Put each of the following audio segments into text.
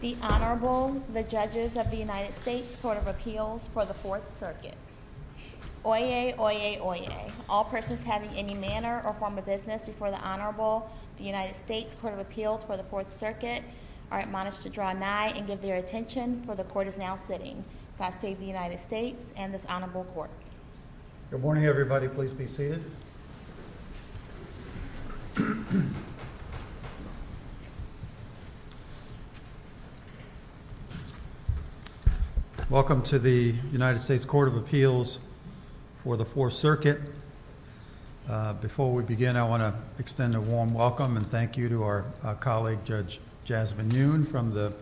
The Honorable, the Judges of the United States Court of Appeals for the Fourth Circuit. Oyez, oyez, oyez. All persons having any manner or form of business before the Honorable, the United States Court of Appeals for the Fourth Circuit, are admonished to draw nigh and give their attention, for the Court is now sitting. God save the United States and Good morning, everybody. Please be seated. Welcome to the United States Court of Appeals for the Fourth Circuit. Before we begin, I want to extend a warm welcome and thank you to our colleague, Judge Jasmine Yoon, from the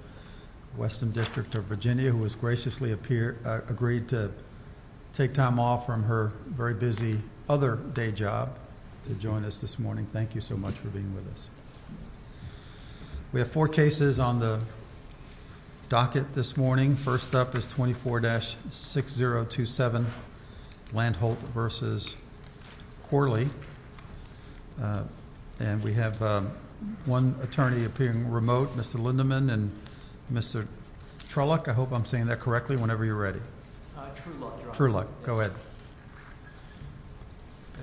Weston District of Virginia, who has graciously agreed to take time off from her very busy other day job to join us this morning. Thank you so much for being with us. We have four cases on the docket this morning. First up is 24-6027 Landholt v. Corley. And we have one attorney appearing remote, Mr. Lindemann and Mr. Truelock. I hope I'm saying that correctly whenever you're ready. Truelock, Your Honor. Truelock, go ahead.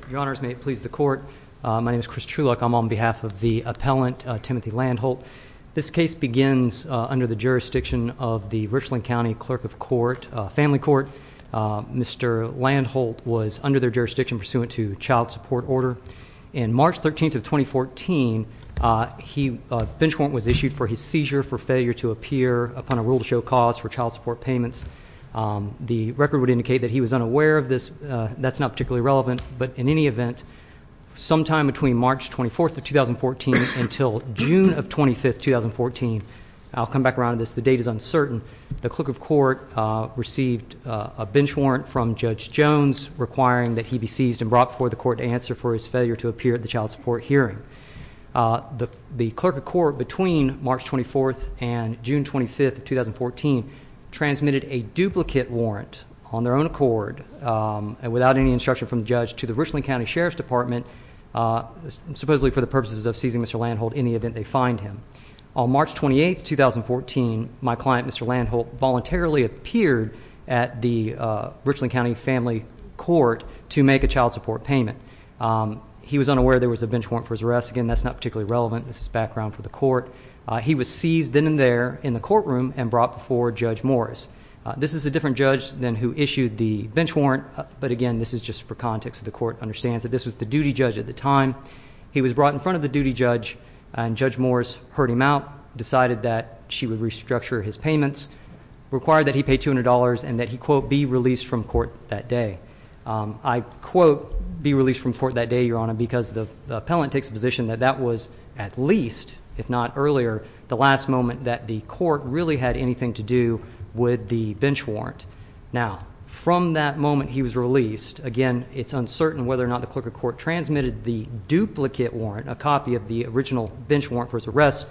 Your Honors, may it please the Court, my name is Chris Truelock. I'm on behalf of the appellant, Timothy Landholt. This case begins under the jurisdiction of the Richland County Clerk of Family Court. Mr. Landholt was under their jurisdiction pursuant to child support order. On March 13th of 2014, a bench warrant was issued for his seizure for failure to appear upon a rule to show cause for child support payments. The record would indicate that he was unaware of this. That's not particularly relevant. But in any event, sometime between March 24th of 2014 until June 25th of 2014, I'll come back around to this, the date is uncertain, the clerk of court received a bench warrant from Judge Jones requiring that he be seized and brought before the court to answer for his failure to appear at the child support hearing. The clerk of court between March 24th and June 25th of 2014 transmitted a duplicate warrant on their own accord and without any instruction from the judge to the Richland County Sheriff's Department, supposedly for the purposes of seizing Mr. Landholt in the event they find him. On March 28th, 2014, my client, Mr. Landholt, voluntarily appeared at the Richland County Family Court to make a child support payment. He was unaware there was a bench warrant for his arrest. Again, that's not particularly relevant. This is background for the court. He was seized then and there in the courtroom and brought before Judge Morris. This is a different judge than who issued the bench warrant, but again, this is just for context. The court understands that this was the duty judge at the time. He was brought in front of the duty judge, and Judge Morris heard him out, decided that she would restructure his payments, required that he pay $200, and that he, quote, be released from court that day. I quote, be released from court that day, Your Honor, because the appellant takes the position that that was at least, if not earlier, the last moment that the court really had anything to do with the bench warrant. Now, from that moment he was released, again, it's uncertain whether or not the clerk of court transmitted the duplicate warrant, a copy of the original bench warrant for his arrest,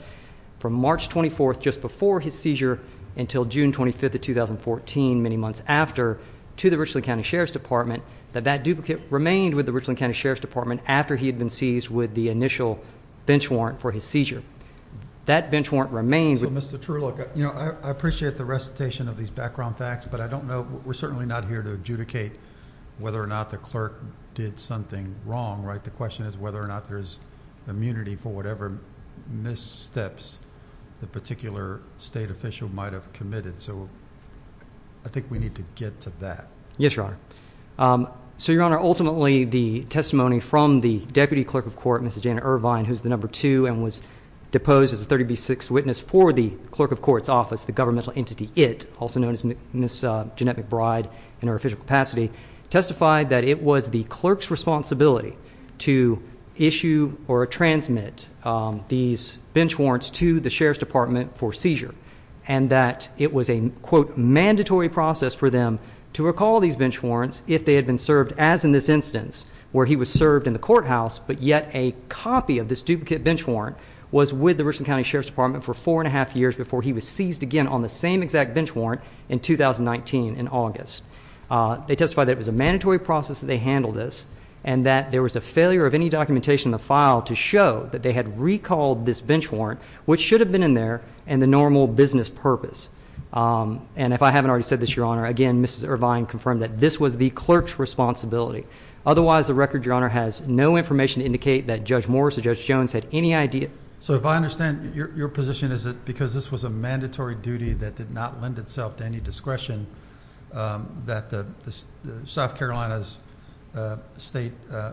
from March 24th, just before his seizure, until June 25th of 2014, many months after, to the Richland County Sheriff's Department, that that duplicate remained with the Richland County Sheriff's Department after he had been seized with the initial bench warrant for his seizure. That bench warrant remains. So, Mr. True, look, you know, I appreciate the recitation of these background facts, but I don't know, we're certainly not here to adjudicate whether or not the clerk did something wrong, right? The question is whether or not there's immunity for whatever missteps the particular state official might have committed. So, I think we need to get to that. Yes, Your Honor. So, Your Honor, ultimately, the testimony from the deputy clerk of court, Mr. Janet Irvine, who's the number two and was deposed as a 30B6 witness for the clerk of court's office, the governmental entity, IT, also known as Ms. Janet McBride in her official capacity, testified that it was the clerk's responsibility to issue or transmit these bench warrants to the Sheriff's Department for seizure, and that it was a, quote, mandatory process for them to recall these bench warrants if they had been served, as in this instance, where he was served in the courthouse, but yet a copy of this duplicate bench warrant was with the Richland County Sheriff's Department for four and a half years before he was seized again on the same exact bench warrant in 2019 in August. They testified that it was a mandatory process that they handled this and that there was a failure of any documentation in the file to show that they had recalled this bench warrant, which should have been in there, and the normal business purpose. And if I haven't already said this, Your Honor, again, Mrs. Irvine confirmed that this was the clerk's responsibility. Otherwise, the record, Your Honor, has no information to indicate that Judge Morris or Judge Jones had any idea. So if I understand, your position is that because this was a mandatory duty that did not lend itself to any discretion, that the South Carolina's State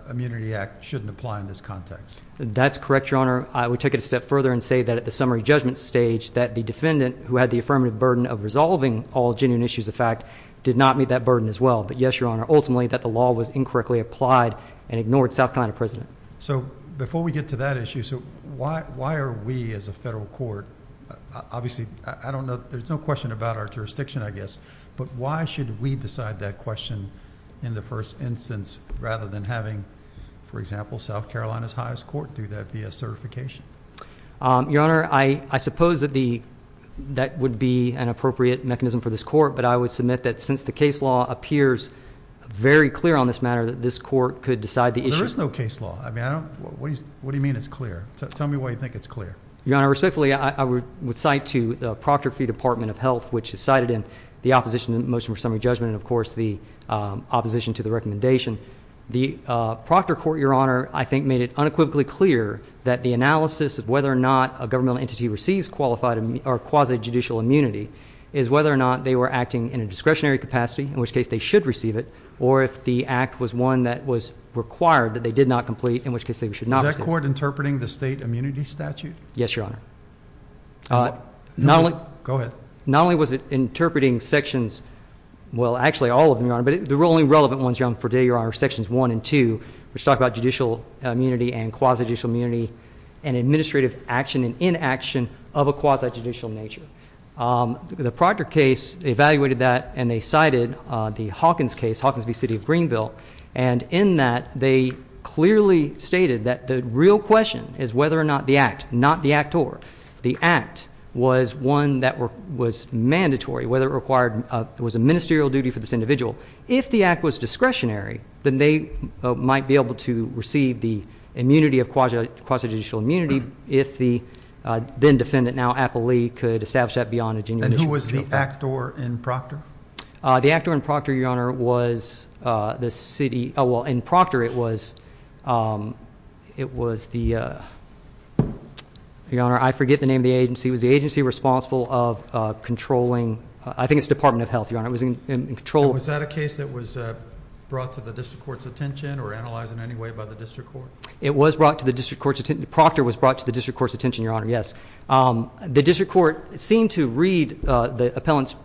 Immunity Act shouldn't apply in this context. That's correct, Your Honor. I would take it a step further and say that at the summary judgment stage, that the defendant who had the affirmative burden of resolving all genuine issues of fact did not meet that burden as well. But yes, Your Honor, ultimately that the law was incorrectly applied and ignored South Carolina president. So before we get to that issue, so why why are we as a federal court? Obviously, I don't know. There's no question about our jurisdiction, I guess. But why should we decide that question in the first instance rather than having, for example, South Carolina's highest court? Do that be a certification? Your Honor, I suppose that the that would be an appropriate mechanism for this court. But I would submit that since the case law appears very clear on this matter, that this court could decide the issue. There is no case law. I mean, what do you mean it's clear? Tell me why you think it's clear. Your Honor, respectfully, I would cite to the Proctor v. Department of Health, which is cited in the opposition motion for summary judgment and, of course, the opposition to the recommendation. The Proctor court, Your Honor, I think made it unequivocally clear that the analysis of whether or not a governmental entity receives qualified or quasi judicial immunity is whether or not they were acting in a discretionary capacity, in which case they should receive it, or if the act was one that was required that they did not complete, in which case they should not. Is that court interpreting the state immunity statute? Yes, Your Honor. Not only go ahead. Not only was it interpreting sections. Well, actually, all of them are. But the only relevant ones for today are sections one and two. Which talk about judicial immunity and quasi judicial immunity and administrative action and inaction of a quasi judicial nature. The Proctor case evaluated that, and they cited the Hawkins case, Hawkins v. City of Greenville. And in that, they clearly stated that the real question is whether or not the act, not the act or. The act was one that was mandatory, whether it was a ministerial duty for this individual. If the act was discretionary, then they might be able to receive the immunity of quasi judicial immunity. If the then-defendant, now appellee, could establish that beyond a judicial duty. And who was the actor in Proctor? The actor in Proctor, Your Honor, was the city. Oh, well, in Proctor, it was the. Your Honor, I forget the name of the agency. It was the agency responsible of controlling. I think it's Department of Health, Your Honor. It was in control. Was that a case that was brought to the district court's attention or analyzed in any way by the district court? It was brought to the district court's attention. Proctor was brought to the district court's attention, Your Honor. Yes, the district court seemed to read the appellant's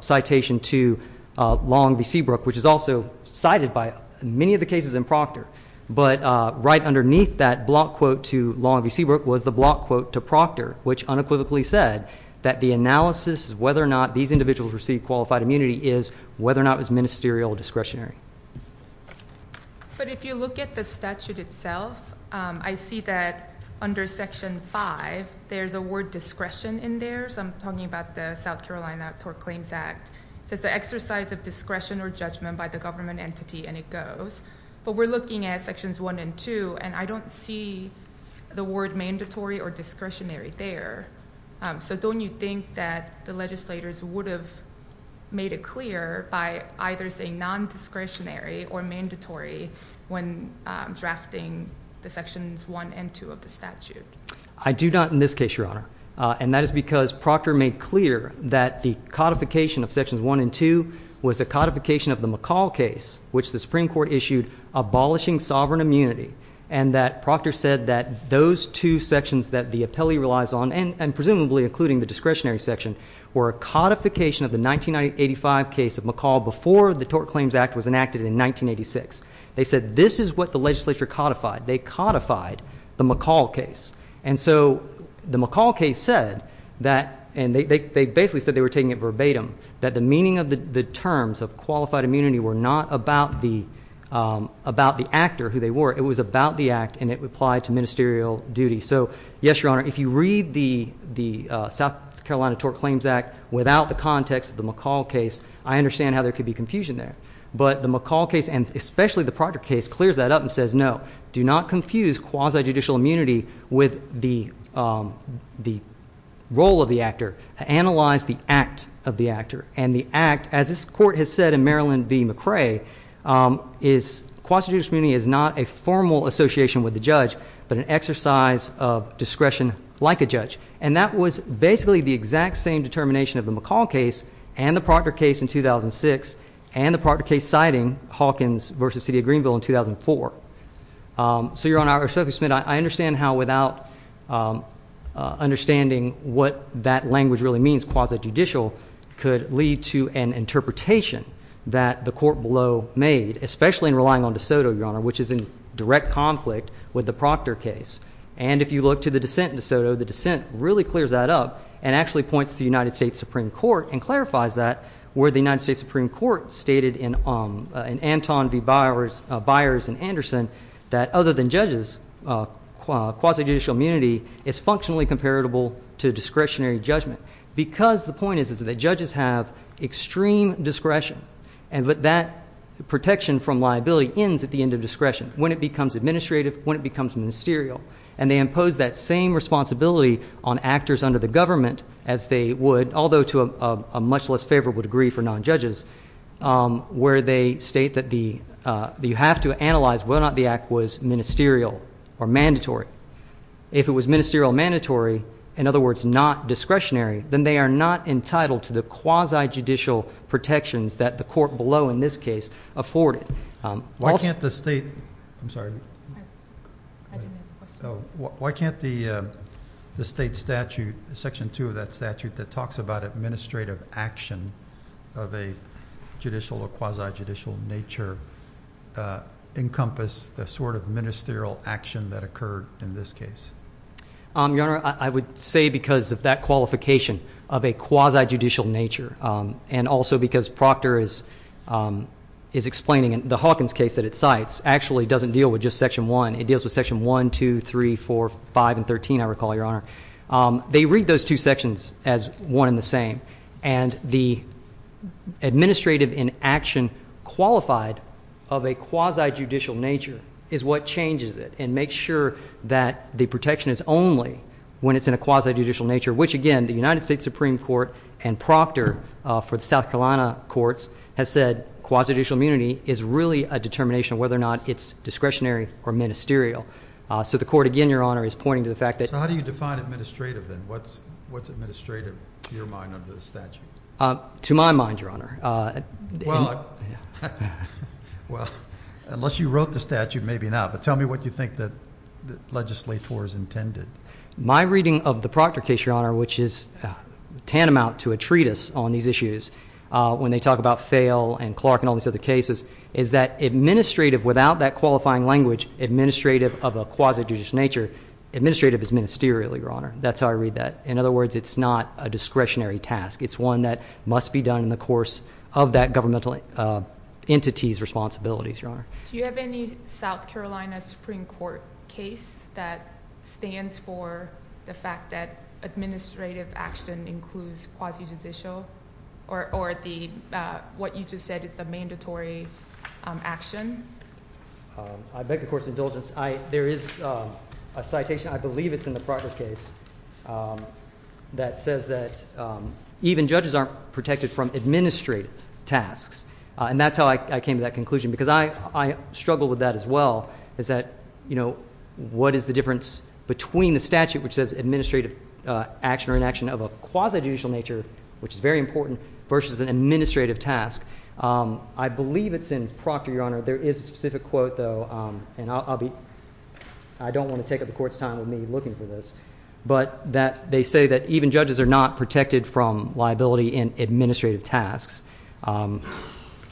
citation to Long v. Seabrook, which is also cited by many of the cases in Proctor. But right underneath that block quote to Long v. Seabrook was the block quote to Proctor, which unequivocally said. That the analysis of whether or not these individuals received qualified immunity is whether or not it was ministerial or discretionary. But if you look at the statute itself, I see that under Section 5, there's a word discretion in there. So I'm talking about the South Carolina Tort Claims Act. It says the exercise of discretion or judgment by the government entity, and it goes. But we're looking at Sections 1 and 2, and I don't see the word mandatory or discretionary there. So don't you think that the legislators would have made it clear by either saying nondiscretionary or mandatory when drafting the Sections 1 and 2 of the statute? I do not in this case, Your Honor. And that is because Proctor made clear that the codification of Sections 1 and 2 was a codification of the McCall case, which the Supreme Court issued abolishing sovereign immunity. And that Proctor said that those two sections that the appellee relies on, and presumably including the discretionary section, were a codification of the 1985 case of McCall before the Tort Claims Act was enacted in 1986. They said this is what the legislature codified. They codified the McCall case. And so the McCall case said that, and they basically said they were taking it verbatim, that the meaning of the terms of qualified immunity were not about the actor, who they were. It was about the act, and it applied to ministerial duty. So, yes, Your Honor, if you read the South Carolina Tort Claims Act without the context of the McCall case, I understand how there could be confusion there. But the McCall case, and especially the Proctor case, clears that up and says, no, do not confuse quasi-judicial immunity with the role of the actor. Analyze the act of the actor. And the act, as this Court has said in Maryland v. McCrae, is quasi-judicial immunity is not a formal association with the judge, but an exercise of discretion like a judge. And that was basically the exact same determination of the McCall case and the Proctor case in 2006 and the Proctor case citing Hawkins v. City of Greenville in 2004. So, Your Honor, I understand how without understanding what that language really means, quasi-judicial, could lead to an interpretation that the Court below made, especially in relying on De Soto, Your Honor, which is in direct conflict with the Proctor case. And if you look to the dissent in De Soto, the dissent really clears that up and actually points to the United States Supreme Court and clarifies that where the United States Supreme Court stated in Anton v. Byers and Anderson that other than judges, quasi-judicial immunity is functionally comparable to discretionary judgment. Because the point is that judges have extreme discretion, but that protection from liability ends at the end of discretion when it becomes administrative, when it becomes ministerial. And they impose that same responsibility on actors under the government as they would, although to a much less favorable degree for non-judges, where they state that you have to analyze whether or not the act was ministerial or mandatory. If it was ministerial or mandatory, in other words, not discretionary, then they are not entitled to the quasi-judicial protections that the Court below in this case afforded. Why can't the state statute, Section 2 of that statute, that talks about administrative action of a judicial or quasi-judicial nature, encompass the sort of ministerial action that occurred in this case? Your Honor, I would say because of that qualification of a quasi-judicial nature and also because Proctor is explaining the Hawkins case that it cites actually doesn't deal with just Section 1. It deals with Section 1, 2, 3, 4, 5, and 13, I recall, Your Honor. They read those two sections as one and the same, and the administrative inaction qualified of a quasi-judicial nature is what changes it and makes sure that the protection is only when it's in a quasi-judicial nature, which, again, the United States Supreme Court and Proctor for the South Carolina courts has said quasi-judicial immunity is really a determination of whether or not it's discretionary or ministerial. So the Court, again, Your Honor, is pointing to the fact that- So how do you define administrative then? What's administrative to your mind under the statute? To my mind, Your Honor. Well, unless you wrote the statute, maybe not. But tell me what you think the legislators intended. My reading of the Proctor case, Your Honor, which is tantamount to a treatise on these issues when they talk about Fale and Clark and all these other cases, is that administrative without that qualifying language, administrative of a quasi-judicial nature, administrative is ministerial, Your Honor. That's how I read that. In other words, it's not a discretionary task. It's one that must be done in the course of that governmental entity's responsibilities, Your Honor. Do you have any South Carolina Supreme Court case that stands for the fact that administrative action includes quasi-judicial or what you just said is a mandatory action? I beg the Court's indulgence. There is a citation, I believe it's in the Proctor case, that says that even judges aren't protected from administrative tasks. And that's how I came to that conclusion, because I struggle with that as well, is that, you know, what is the difference between the statute which says administrative action or inaction of a quasi-judicial nature, which is very important, versus an administrative task? I believe it's in Proctor, Your Honor. There is a specific quote, though, and I don't want to take up the Court's time with me looking for this, but that they say that even judges are not protected from liability in administrative tasks.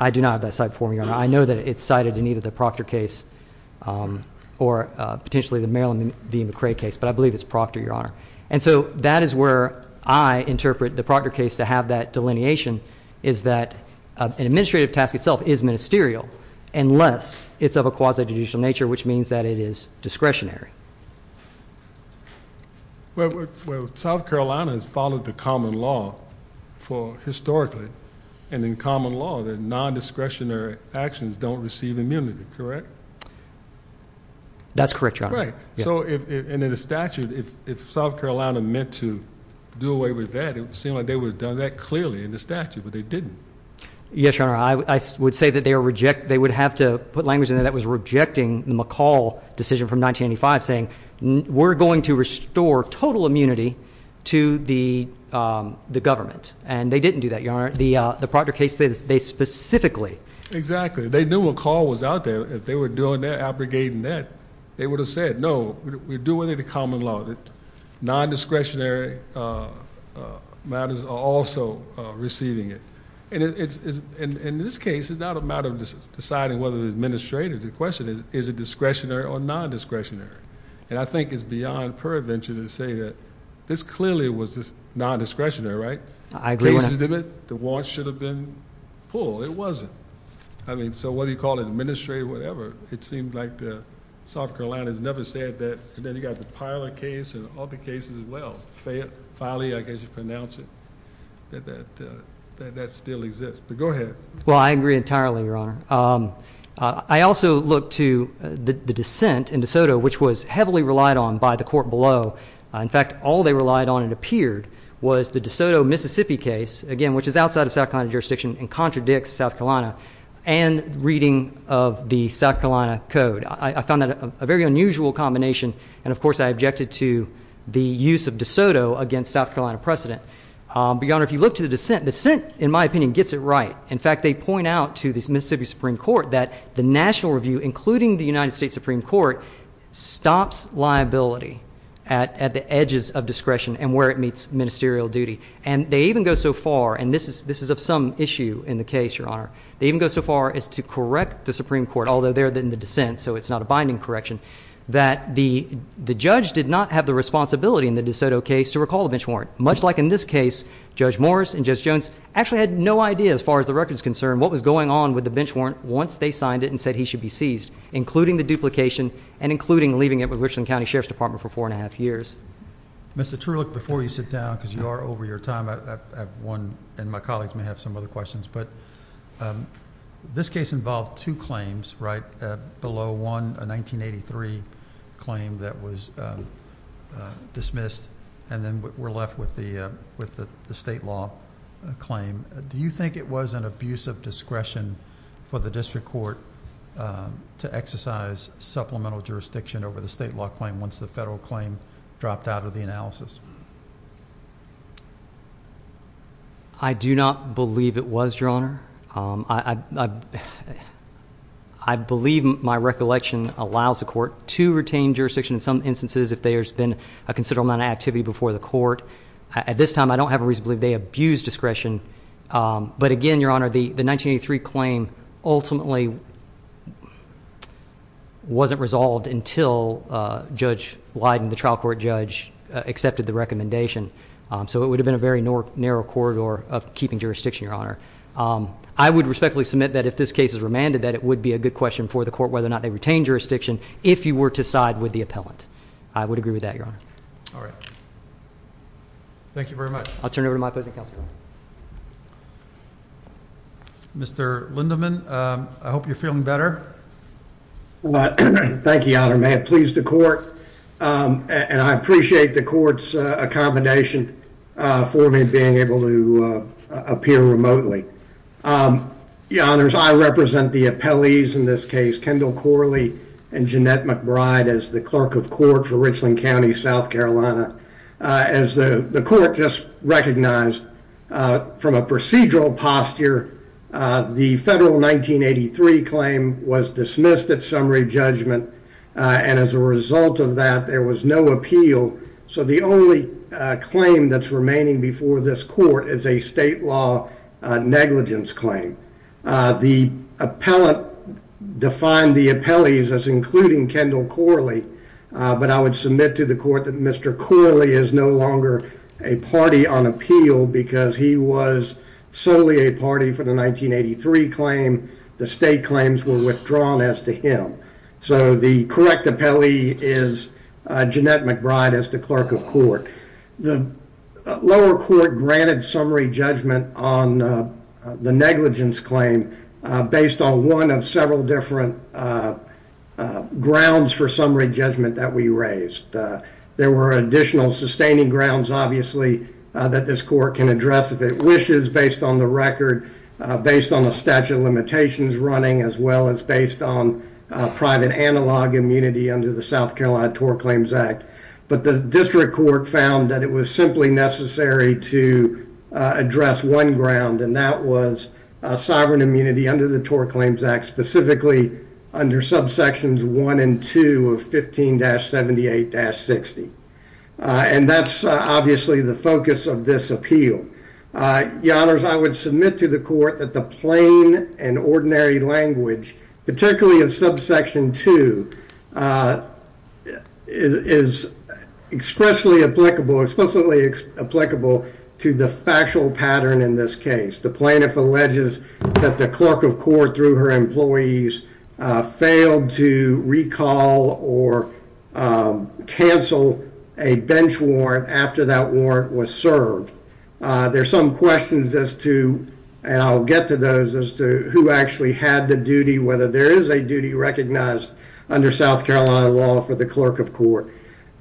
I do not have that cited for me, Your Honor. I know that it's cited in either the Proctor case or potentially the Maryland v. McCrae case, but I believe it's Proctor, Your Honor. And so that is where I interpret the Proctor case to have that delineation, is that an administrative task itself is ministerial unless it's of a quasi-judicial nature, which means that it is discretionary. Well, South Carolina has followed the common law for historically, and in common law, that non-discretionary actions don't receive immunity, correct? That's correct, Your Honor. Right. So in the statute, if South Carolina meant to do away with that, it would seem like they would have done that clearly in the statute, but they didn't. Yes, Your Honor. I would say that they would have to put language in there that was rejecting the McCall decision from 1985, saying we're going to restore total immunity to the government. And they didn't do that, Your Honor. The Proctor case, they specifically. Exactly. They knew McCall was out there. If they were doing their abrogating that, they would have said, no, we're doing it in common law. Non-discretionary matters are also receiving it. In this case, it's not a matter of deciding whether the administrator. The question is, is it discretionary or non-discretionary? And I think it's beyond pervention to say that this clearly was non-discretionary, right? I agree with that. The warrant should have been pulled. It wasn't. I mean, so whether you call it administrative or whatever, it seemed like South Carolina has never said that. And then you've got the Pilar case and all the cases as well. Farley, I guess you pronounce it, that that still exists. But go ahead. Well, I agree entirely, Your Honor. I also look to the dissent in DeSoto, which was heavily relied on by the court below. In fact, all they relied on, it appeared, was the DeSoto, Mississippi case, again, which is outside of South Carolina jurisdiction and contradicts South Carolina, and reading of the South Carolina code. I found that a very unusual combination. And, of course, I objected to the use of DeSoto against South Carolina precedent. But, Your Honor, if you look to the dissent, the dissent, in my opinion, gets it right. In fact, they point out to the Mississippi Supreme Court that the national review, including the United States Supreme Court, stops liability at the edges of discretion and where it meets ministerial duty. And they even go so far, and this is of some issue in the case, Your Honor, they even go so far as to correct the Supreme Court, although they're in the dissent, so it's not a binding correction, that the judge did not have the responsibility in the DeSoto case to recall the bench warrant. Much like in this case, Judge Morris and Judge Jones actually had no idea, as far as the record is concerned, what was going on with the bench warrant once they signed it and said he should be seized, including the duplication and including leaving it with the Richland County Sheriff's Department for 4 1⁄2 years. Mr. Terulak, before you sit down, because you are over your time, I have one, and my colleagues may have some other questions, but this case involved two claims, right? Below one, a 1983 claim that was dismissed, and then we're left with the state law claim. Do you think it was an abuse of discretion for the district court to exercise supplemental jurisdiction over the state law claim once the federal claim dropped out of the analysis? I do not believe it was, Your Honor. I believe my recollection allows the court to retain jurisdiction in some instances if there's been a considerable amount of activity before the court. At this time, I don't have a reason to believe they abused discretion, but again, Your Honor, the 1983 claim ultimately wasn't resolved until Judge Leiden, the trial court judge, accepted the recommendation. So it would have been a very narrow corridor of keeping jurisdiction, Your Honor. I would respectfully submit that if this case is remanded, that it would be a good question for the court whether or not they retained jurisdiction if you were to side with the appellant. I would agree with that, Your Honor. All right. Thank you very much. I'll turn it over to my opposing counsel. Mr. Lindeman, I hope you're feeling better. Thank you, Your Honor. May it please the court. And I appreciate the court's accommodation for me being able to appear remotely. Your Honors, I represent the appellees in this case, Kendall Corley and Jeanette McBride, as the clerk of court for Richland County, South Carolina. As the court just recognized from a procedural posture, the federal 1983 claim was dismissed at summary judgment, and as a result of that, there was no appeal. So the only claim that's remaining before this court is a state law negligence claim. The appellant defined the appellees as including Kendall Corley, but I would submit to the court that Mr. Corley is no longer a party on appeal because he was solely a party for the 1983 claim. The state claims were withdrawn as to him. So the correct appellee is Jeanette McBride as the clerk of court. The lower court granted summary judgment on the negligence claim based on one of several different grounds for summary judgment that we raised. There were additional sustaining grounds, obviously, that this court can address if it wishes based on the record, based on the statute of limitations running, as well as based on private analog immunity under the South Carolina TOR Claims Act. But the district court found that it was simply necessary to address one ground, and that was sovereign immunity under the TOR Claims Act, specifically under subsections 1 and 2 of 15-78-60. And that's obviously the focus of this appeal. Your Honors, I would submit to the court that the plain and ordinary language, particularly of subsection 2, is expressly applicable, explicitly applicable to the factual pattern in this case. The plaintiff alleges that the clerk of court, through her employees, failed to recall or cancel a bench warrant after that warrant was served. There are some questions as to, and I'll get to those, as to who actually had the duty, whether there is a duty recognized under South Carolina law for the clerk of court.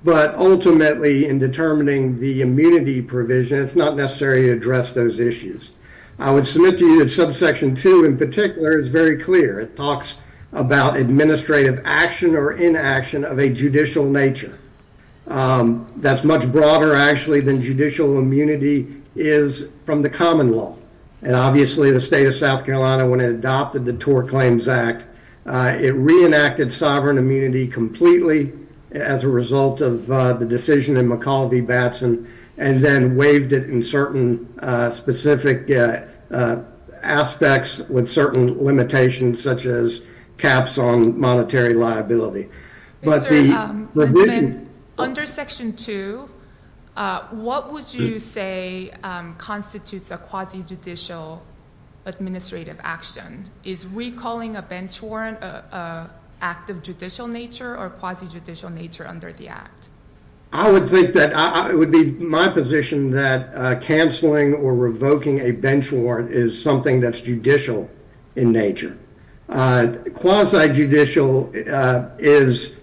But ultimately, in determining the immunity provision, it's not necessary to address those issues. I would submit to you that subsection 2, in particular, is very clear. It talks about administrative action or inaction of a judicial nature. That's much broader, actually, than judicial immunity is from the common law. And obviously, the state of South Carolina, when it adopted the TOR Claims Act, it reenacted sovereign immunity completely as a result of the decision in McCall v. Batson, and then waived it in certain specific aspects with certain limitations, such as caps on monetary liability. But the provision— Under section 2, what would you say constitutes a quasi-judicial administrative action? Is recalling a bench warrant an act of judicial nature or quasi-judicial nature under the act? I would think that it would be my position that canceling or revoking a bench warrant is something that's judicial in nature. Quasi-judicial is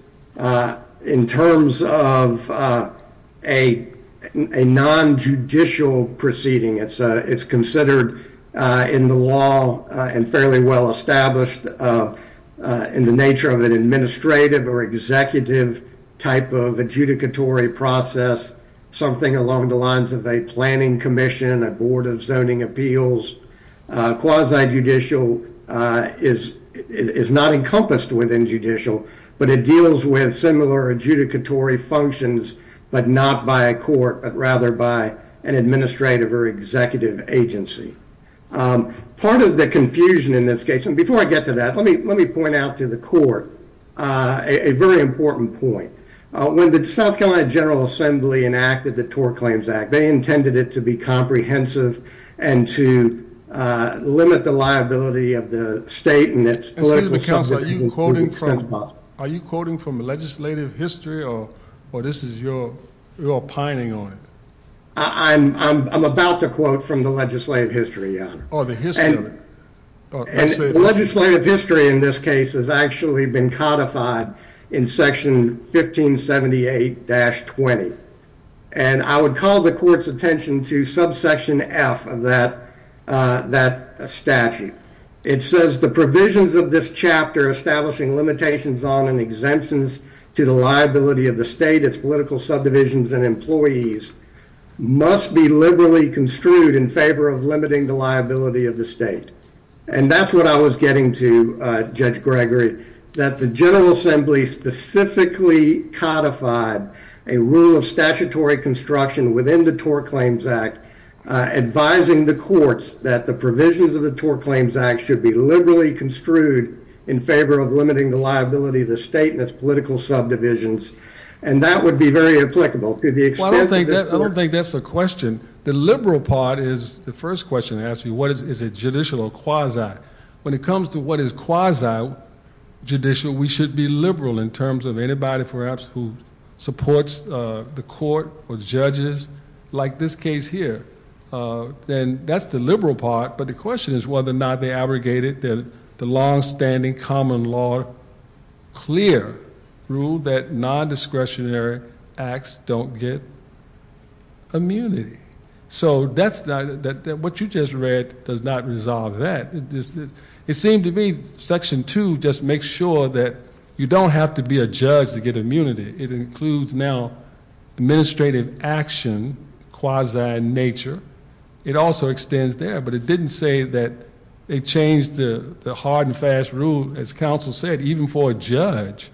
in terms of a non-judicial proceeding. It's considered in the law and fairly well established in the nature of an administrative or executive type of adjudicatory process, something along the lines of a planning commission, a board of zoning appeals. Quasi-judicial is not encompassed within judicial, but it deals with similar adjudicatory functions, but not by a court, but rather by an administrative or executive agency. Part of the confusion in this case—and before I get to that, let me point out to the court a very important point. When the South Carolina General Assembly enacted the TOR Claims Act, they intended it to be comprehensive and to limit the liability of the state and its political— Excuse me, counsel. Are you quoting from the legislative history, or this is your pining on it? I'm about to quote from the legislative history, Your Honor. Oh, the history. The legislative history in this case has actually been codified in section 1578-20, and I would call the court's attention to subsection F of that statute. It says, the provisions of this chapter establishing limitations on and exemptions to the liability of the state, its political subdivisions, and employees must be liberally construed in favor of limiting the liability of the state. And that's what I was getting to, Judge Gregory, that the General Assembly specifically codified a rule of statutory construction within the TOR Claims Act, advising the courts that the provisions of the TOR Claims Act should be liberally construed in favor of limiting the liability of the state and its political subdivisions, and that would be very applicable. I don't think that's a question. The liberal part is, the first question I ask you, what is it, judicial or quasi? When it comes to what is quasi-judicial, we should be liberal in terms of anybody, perhaps, who supports the court or judges, like this case here. Then that's the liberal part, but the question is whether or not they abrogate it. The longstanding common law clear rule that non-discretionary acts don't get immunity. So what you just read does not resolve that. It seemed to me Section 2 just makes sure that you don't have to be a judge to get immunity. It includes now administrative action, quasi-nature. It also extends there, but it didn't say that it changed the hard and fast rule, as counsel said, even for a judge.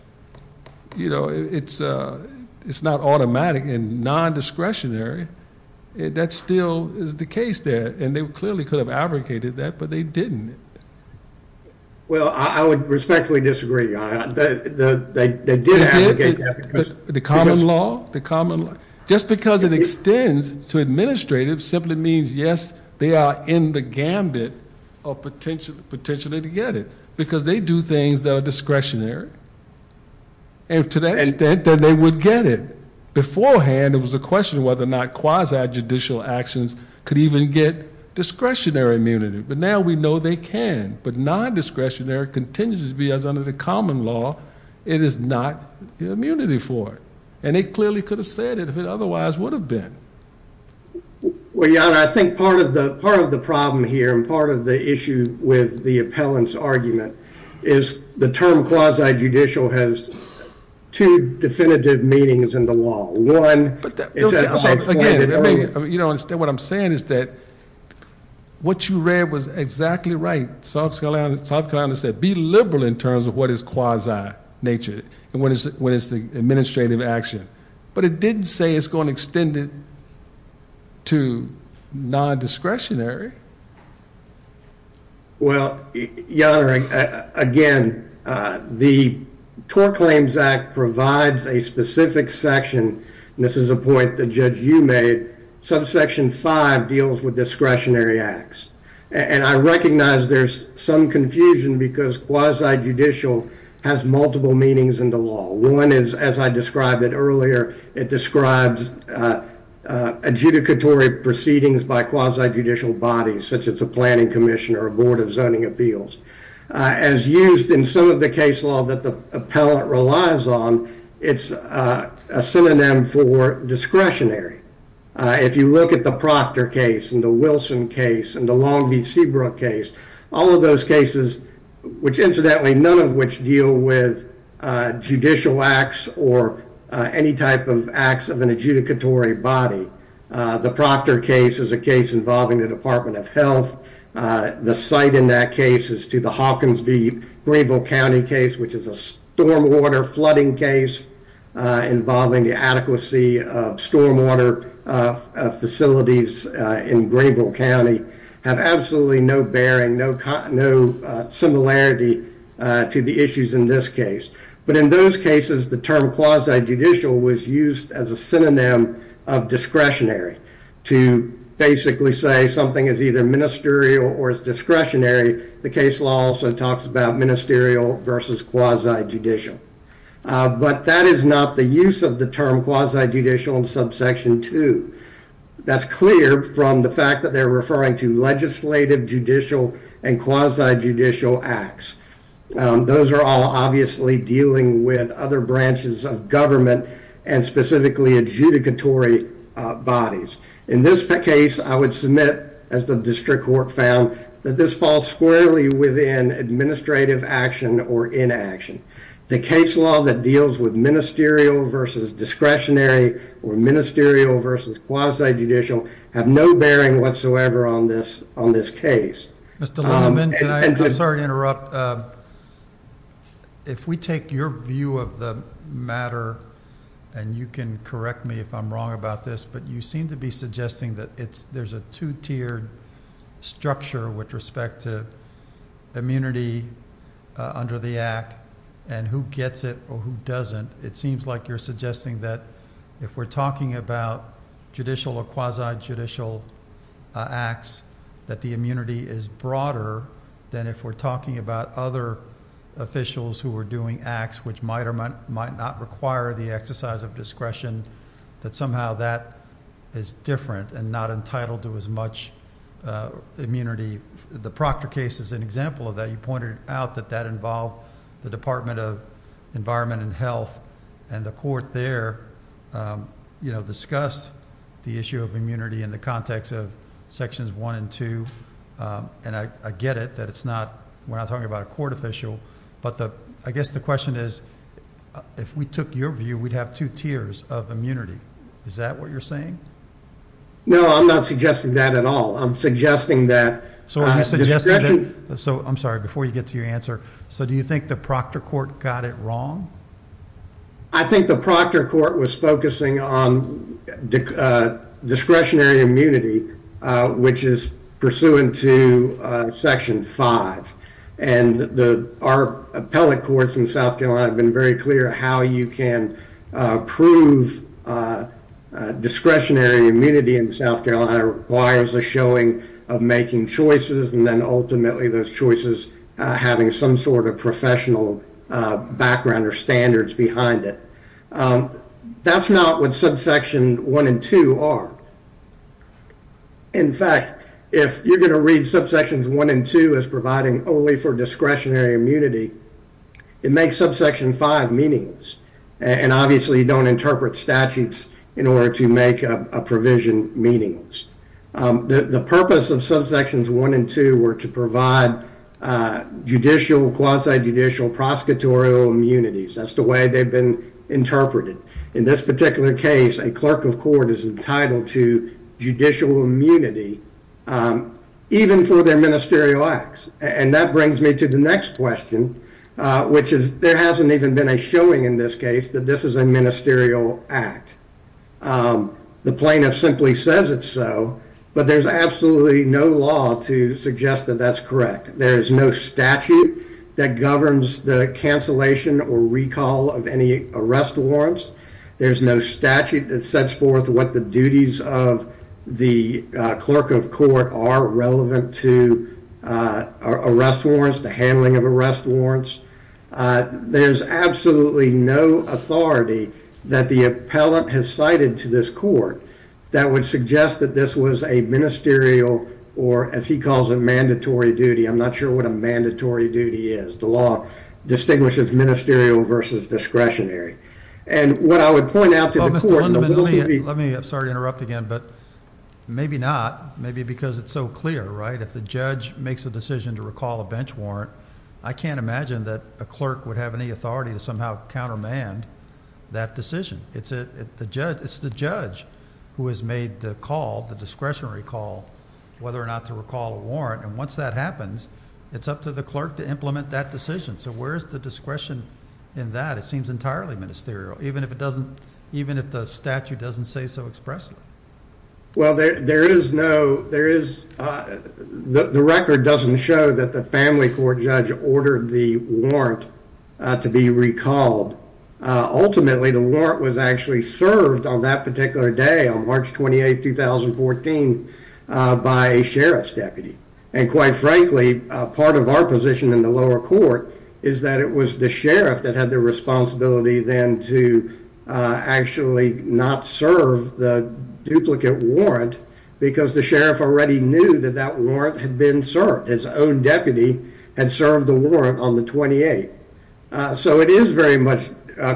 You know, it's not automatic and non-discretionary. That still is the case there, and they clearly could have abrogated that, but they didn't. Well, I would respectfully disagree. They did abrogate that. The common law? Just because it extends to administrative simply means, yes, they are in the gambit of potentially to get it, because they do things that are discretionary, and to that extent that they would get it. Beforehand, it was a question of whether or not quasi-judicial actions could even get discretionary immunity, but now we know they can. But non-discretionary continues to be, as under the common law, it is not immunity for it, and they clearly could have said it if it otherwise would have been. Well, John, I think part of the problem here, and part of the issue with the appellant's argument, is the term quasi-judicial has two definitive meanings in the law. One, it's a transformative rule. Again, what I'm saying is that what you read was exactly right. South Carolina said be liberal in terms of what is quasi-nature, and what is the administrative action. But it didn't say it's going to extend it to non-discretionary. Well, Your Honor, again, the TOR Claims Act provides a specific section, and this is a point the judge you made, subsection 5 deals with discretionary acts. And I recognize there's some confusion because quasi-judicial has multiple meanings in the law. One is, as I described it earlier, it describes adjudicatory proceedings by quasi-judicial bodies, such as a planning commission or a board of zoning appeals. As used in some of the case law that the appellant relies on, it's a synonym for discretionary. If you look at the Proctor case and the Wilson case and the Long v. Seabrook case, all of those cases, which, incidentally, none of which deal with judicial acts or any type of acts of an adjudicatory body. The Proctor case is a case involving the Department of Health. The site in that case is to the Hawkins v. Greenville County case, which is a stormwater flooding case involving the adequacy of stormwater facilities in Greenville County, have absolutely no bearing, no similarity to the issues in this case. But in those cases, the term quasi-judicial was used as a synonym of discretionary to basically say something is either ministerial or is discretionary. The case law also talks about ministerial versus quasi-judicial. But that is not the use of the term quasi-judicial in subsection 2. That's clear from the fact that they're referring to legislative, judicial, and quasi-judicial acts. Those are all obviously dealing with other branches of government and specifically adjudicatory bodies. In this case, I would submit, as the district court found, that this falls squarely within administrative action or inaction. The case law that deals with ministerial versus discretionary or ministerial versus quasi-judicial have no bearing whatsoever on this case. Mr. Lindeman, I'm sorry to interrupt. If we take your view of the matter, and you can correct me if I'm wrong about this, but you seem to be suggesting that there's a two-tiered structure with respect to immunity under the Act and who gets it or who doesn't. It seems like you're suggesting that if we're talking about judicial or quasi-judicial acts, that the immunity is broader than if we're talking about other officials who are doing acts which might or might not require the exercise of discretion, that somehow that is different and not entitled to as much immunity. The Proctor case is an example of that. You pointed out that that involved the Department of Environment and Health, and the court there discussed the issue of immunity in the context of sections 1 and 2, and I get it that it's not when I'm talking about a court official, but I guess the question is, if we took your view, we'd have two tiers of immunity. Is that what you're saying? No, I'm not suggesting that at all. I'm suggesting that discretionary... I'm sorry, before you get to your answer. Do you think the Proctor court got it wrong? I think the Proctor court was focusing on discretionary immunity, which is pursuant to section 5, and our appellate courts in South Carolina have been very clear how you can prove discretionary immunity in South Carolina requires a showing of making choices and then ultimately those choices having some sort of professional background or standards behind it. That's not what subsection 1 and 2 are. In fact, if you're going to read subsections 1 and 2 as providing only for discretionary immunity, it makes subsection 5 meaningless, and obviously you don't interpret statutes in order to make a provision meaningless. The purpose of subsections 1 and 2 were to provide judicial, quasi-judicial, prosecutorial immunities. That's the way they've been interpreted. In this particular case, a clerk of court is entitled to judicial immunity even for their ministerial acts, and that brings me to the next question, which is there hasn't even been a showing in this case that this is a ministerial act. The plaintiff simply says it's so, but there's absolutely no law to suggest that that's correct. There's no statute that governs the cancellation or recall of any arrest warrants. There's no statute that sets forth what the duties of the clerk of court are relevant to arrest warrants, the handling of arrest warrants. There's absolutely no authority that the appellant has cited to this court that would suggest that this was a ministerial or, as he calls it, mandatory duty. I'm not sure what a mandatory duty is. The law distinguishes ministerial versus discretionary. And what I would point out to the court— Oh, Mr. Lundeman, let me—I'm sorry to interrupt again, but maybe not. Maybe because it's so clear, right? If the judge makes a decision to recall a bench warrant, I can't imagine that a clerk would have any authority to somehow countermand that decision. It's the judge who has made the call, the discretionary call, whether or not to recall a warrant. And once that happens, it's up to the clerk to implement that decision. So where is the discretion in that? It seems entirely ministerial, even if the statute doesn't say so expressly. Well, there is no—the record doesn't show that the family court judge ordered the warrant to be recalled. Ultimately, the warrant was actually served on that particular day, on March 28, 2014, by a sheriff's deputy. And quite frankly, part of our position in the lower court is that it was the sheriff that had the responsibility, then, to actually not serve the duplicate warrant because the sheriff already knew that that warrant had been served. His own deputy had served the warrant on the 28th. So it is very much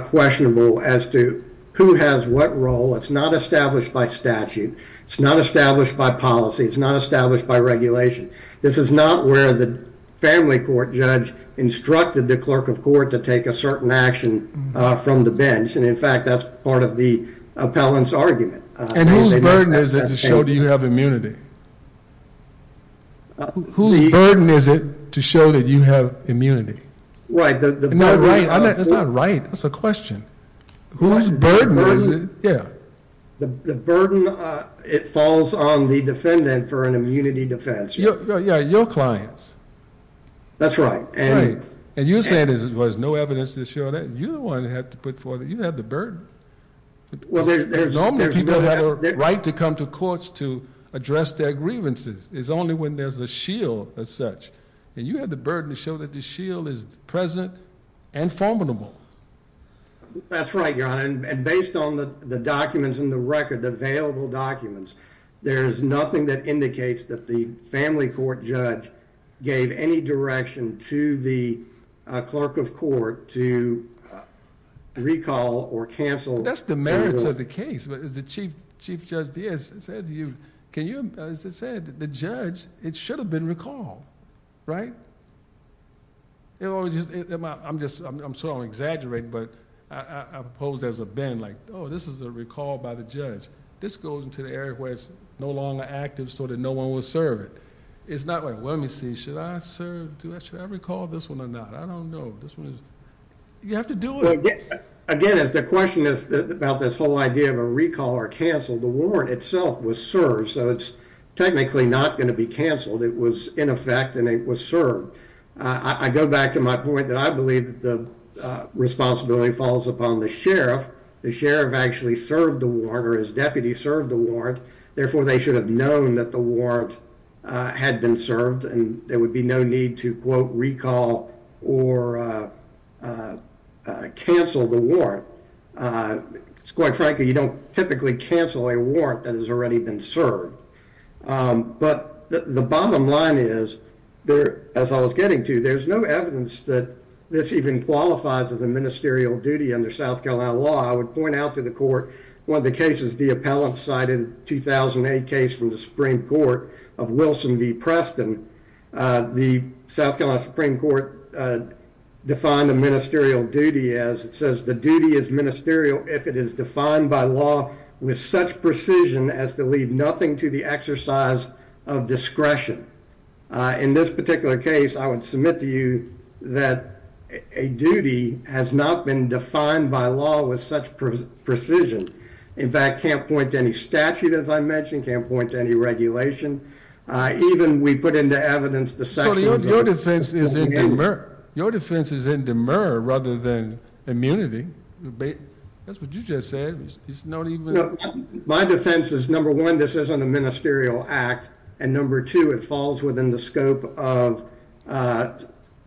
questionable as to who has what role. It's not established by statute. It's not established by policy. It's not established by regulation. This is not where the family court judge instructed the clerk of court to take a certain action from the bench. And, in fact, that's part of the appellant's argument. And whose burden is it to show that you have immunity? Whose burden is it to show that you have immunity? Right. That's not right. That's not right. That's a question. Whose burden is it? Yeah. The burden, it falls on the defendant for an immunity defense. Yeah, your clients. That's right. Right. And you're saying there was no evidence to show that. You're the one that had to put forth—you had the burden. Well, there's— Normally, people have a right to come to courts to address their grievances. It's only when there's a shield, as such. And you had the burden to show that the shield is present and formidable. That's right, Your Honor. And based on the documents in the record, the available documents, there is nothing that indicates that the family court judge gave any direction to the clerk of court to recall or cancel— That's the merits of the case. But as the Chief Judge Diaz said to you, can you—as I said, the judge, it should have been recalled, right? I'm just—I'm sorry I'm exaggerating, but I posed as a bend, like, oh, this is a recall by the judge. This goes into the area where it's no longer active so that no one will serve it. It's not like, well, let me see, should I serve—should I recall this one or not? I don't know. This one is—you have to do it. Again, as the question is about this whole idea of a recall or cancel, the warrant itself was served, so it's technically not going to be canceled. It was in effect and it was served. I go back to my point that I believe that the responsibility falls upon the sheriff. The sheriff actually served the warrant or his deputy served the warrant. Therefore, they should have known that the warrant had been served and there would be no need to, quote, recall or cancel the warrant. Quite frankly, you don't typically cancel a warrant that has already been served. But the bottom line is, as I was getting to, there's no evidence that this even qualifies as a ministerial duty under South Carolina law. I would point out to the court, one of the cases the appellant cited, 2008 case from the Supreme Court of Wilson v. Preston, the South Carolina Supreme Court defined a ministerial duty as it says, the duty is ministerial if it is defined by law with such precision as to leave nothing to the exercise of discretion. In this particular case, I would submit to you that a duty has not been defined by law with such precision. In fact, can't point to any statute, as I mentioned, can't point to any regulation. Even we put into evidence the section of the law. Your defense is in demur. Your defense is in demur rather than immunity. That's what you just said. My defense is, number one, this isn't a ministerial act. And number two, it falls within the scope of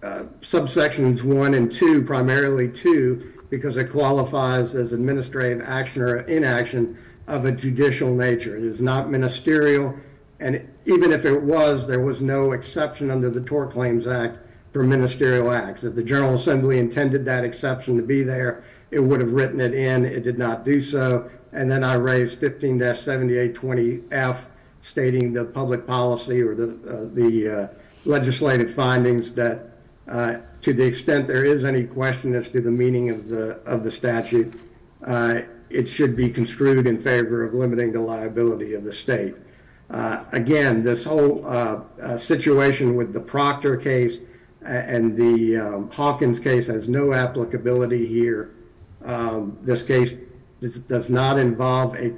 subsections one and two, primarily two, because it qualifies as administrative action or inaction of a judicial nature. It is not ministerial. And even if it was, there was no exception under the TOR Claims Act for ministerial acts. If the General Assembly intended that exception to be there, it would have written it in. It did not do so. And then I raised 15-7820F, stating the public policy or the legislative findings that to the extent there is any question as to the meaning of the statute, it should be construed in favor of limiting the liability of the state. Again, this whole situation with the Proctor case and the Hawkins case has no applicability here. This case does not involve a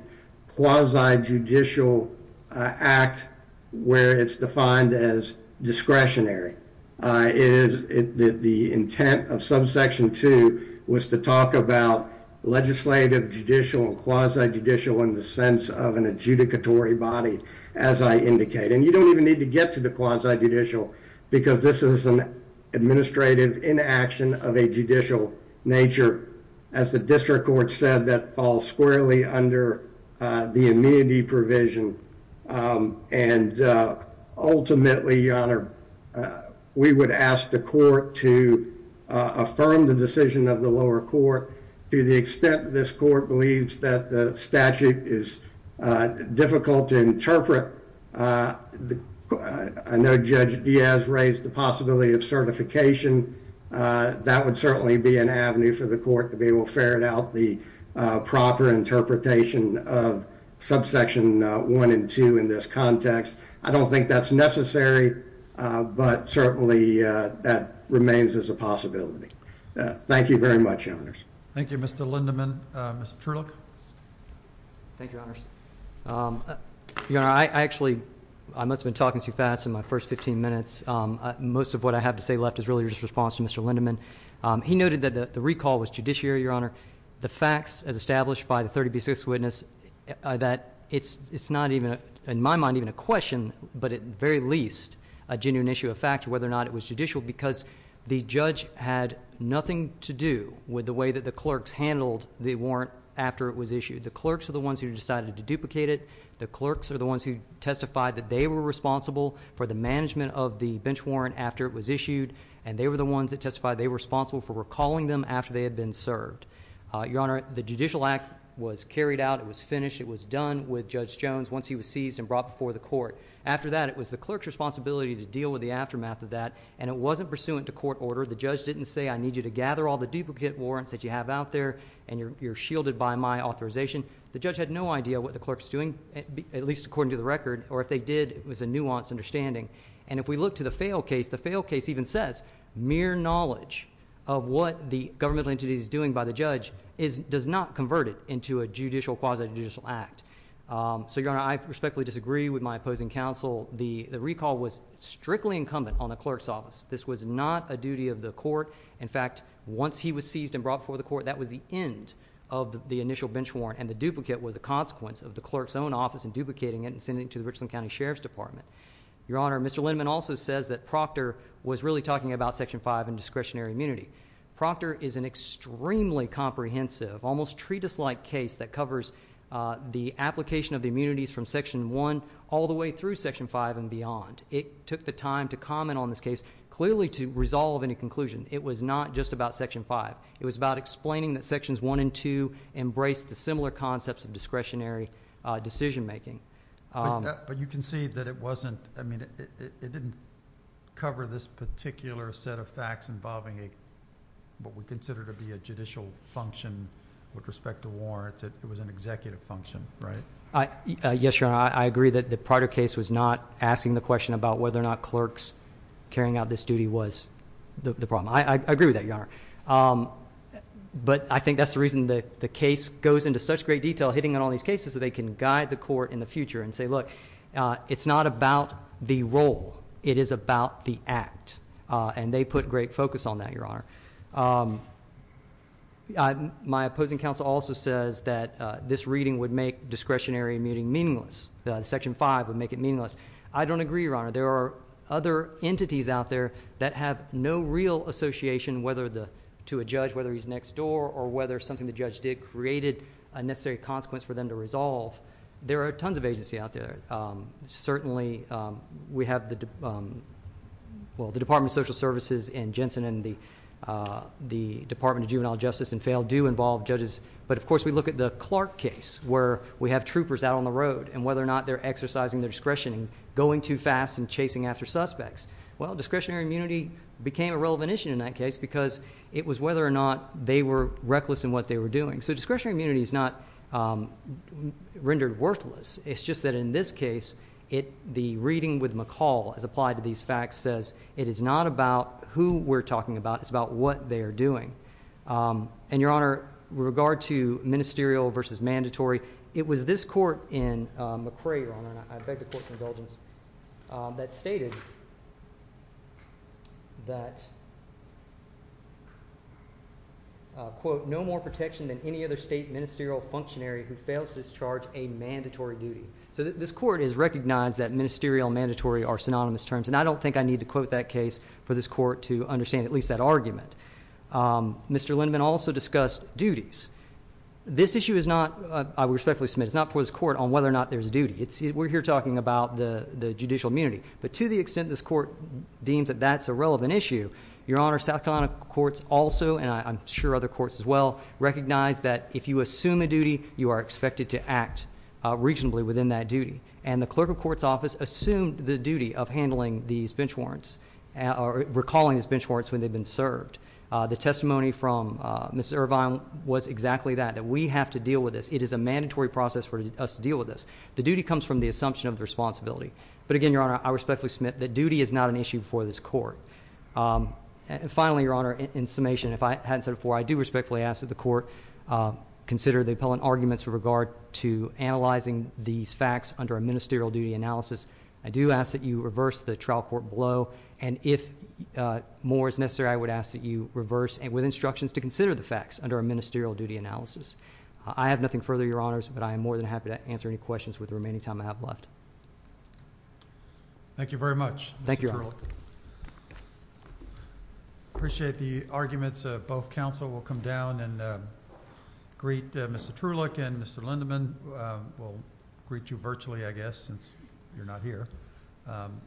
quasi-judicial act where it's defined as discretionary. The intent of subsection two was to talk about legislative, judicial, and quasi-judicial in the sense of an adjudicatory body, as I indicated. And you don't even need to get to the quasi-judicial because this is an administrative inaction of a judicial nature. As the district court said, that falls squarely under the immunity provision. And ultimately, Your Honor, we would ask the court to affirm the decision of the lower court. To the extent this court believes that the statute is difficult to interpret, I know Judge Diaz raised the possibility of certification. That would certainly be an avenue for the court to be able to ferret out the proper interpretation of subsection one and two in this context. I don't think that's necessary, but certainly that remains as a possibility. Thank you very much, Your Honors. Thank you, Mr. Lindemann. Mr. Trulich? Thank you, Your Honors. Your Honor, I actually, I must have been talking too fast in my first 15 minutes. Most of what I have to say left is really just a response to Mr. Lindemann. He noted that the recall was judiciary, Your Honor. The facts, as established by the 30B6 witness, that it's not even, in my mind, even a question, but at the very least a genuine issue of fact whether or not it was judicial because the judge had nothing to do with the way that the clerks handled the warrant after it was issued. The clerks are the ones who decided to duplicate it. The clerks are the ones who testified that they were responsible for the management of the bench warrant after it was issued, and they were the ones that testified they were responsible for recalling them after they had been served. Your Honor, the judicial act was carried out. It was finished. It was done with Judge Jones once he was seized and brought before the court. After that, it was the clerk's responsibility to deal with the aftermath of that, and it wasn't pursuant to court order. The judge didn't say, I need you to gather all the duplicate warrants that you have out there, and you're shielded by my authorization. The judge had no idea what the clerk was doing, at least according to the record, or if they did, it was a nuanced understanding. And if we look to the failed case, the failed case even says mere knowledge of what the governmental entity is doing by the judge does not convert it into a quasi-judicial act. So, Your Honor, I respectfully disagree with my opposing counsel. The recall was strictly incumbent on the clerk's office. This was not a duty of the court. In fact, once he was seized and brought before the court, that was the end of the initial bench warrant, and the duplicate was a consequence of the clerk's own office in duplicating it and sending it to the Richland County Sheriff's Department. Your Honor, Mr. Lindemann also says that Proctor was really talking about Section 5 and discretionary immunity. Proctor is an extremely comprehensive, almost treatise-like case that covers the application of the immunities from Section 1 all the way through Section 5 and beyond. It took the time to comment on this case clearly to resolve any conclusion. It was not just about Section 5. It was about explaining that Sections 1 and 2 embraced the similar concepts of discretionary decision-making. But you concede that it wasn't, I mean, it didn't cover this particular set of facts involving what we consider to be a judicial function with respect to warrants. It was an executive function, right? Yes, Your Honor. I agree that the Proctor case was not asking the question about whether or not clerks carrying out this duty was the problem. I agree with that, Your Honor. But I think that's the reason the case goes into such great detail, hitting on all these cases, that they can guide the court in the future and say, look, it's not about the role. It is about the act. And they put great focus on that, Your Honor. My opposing counsel also says that this reading would make discretionary meeting meaningless. Section 5 would make it meaningless. I don't agree, Your Honor. There are other entities out there that have no real association, whether to a judge, whether he's next door, or whether something the judge did created a necessary consequence for them to resolve. There are tons of agency out there. Certainly, we have the Department of Social Services and Jensen and the Department of Juvenile Justice and FAIL do involve judges. But, of course, we look at the Clark case where we have troopers out on the road and whether or not they're exercising their discretion in going too fast and chasing after suspects. Well, discretionary immunity became a relevant issue in that case because it was whether or not they were reckless in what they were doing. So discretionary immunity is not rendered worthless. It's just that in this case, the reading with McCall as applied to these facts says it is not about who we're talking about. It's about what they are doing. And, Your Honor, with regard to ministerial versus mandatory, it was this court in McRae, Your Honor, and I beg the court's indulgence, that stated that, quote, So this court has recognized that ministerial and mandatory are synonymous terms, and I don't think I need to quote that case for this court to understand at least that argument. Mr. Lindeman also discussed duties. This issue is not, I respectfully submit, it's not for this court on whether or not there's a duty. We're here talking about the judicial immunity. But to the extent this court deems that that's a relevant issue, Your Honor, South Carolina courts also, and I'm sure other courts as well, recognize that if you assume a duty, you are expected to act reasonably within that duty. And the clerk of court's office assumed the duty of handling these bench warrants or recalling these bench warrants when they've been served. The testimony from Mrs. Irvine was exactly that, that we have to deal with this. It is a mandatory process for us to deal with this. The duty comes from the assumption of responsibility. But again, Your Honor, I respectfully submit that duty is not an issue for this court. Finally, Your Honor, in summation, if I hadn't said it before, I do respectfully ask that the court consider the appellant arguments with regard to analyzing these facts under a ministerial duty analysis. I do ask that you reverse the trial court blow, and if more is necessary, I would ask that you reverse it with instructions to consider the facts under a ministerial duty analysis. I have nothing further, Your Honors, but I am more than happy to answer any questions with the remaining time I have left. Thank you very much. Thank you, Your Honor. I appreciate the arguments of both counsel. We'll come down and greet Mr. Truelich and Mr. Lindeman. We'll greet you virtually, I guess, since you're not here. I'm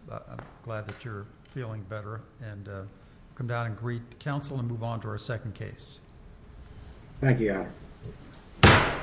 glad that you're feeling better. We'll come down and greet counsel and move on to our second case. Thank you, Your Honor.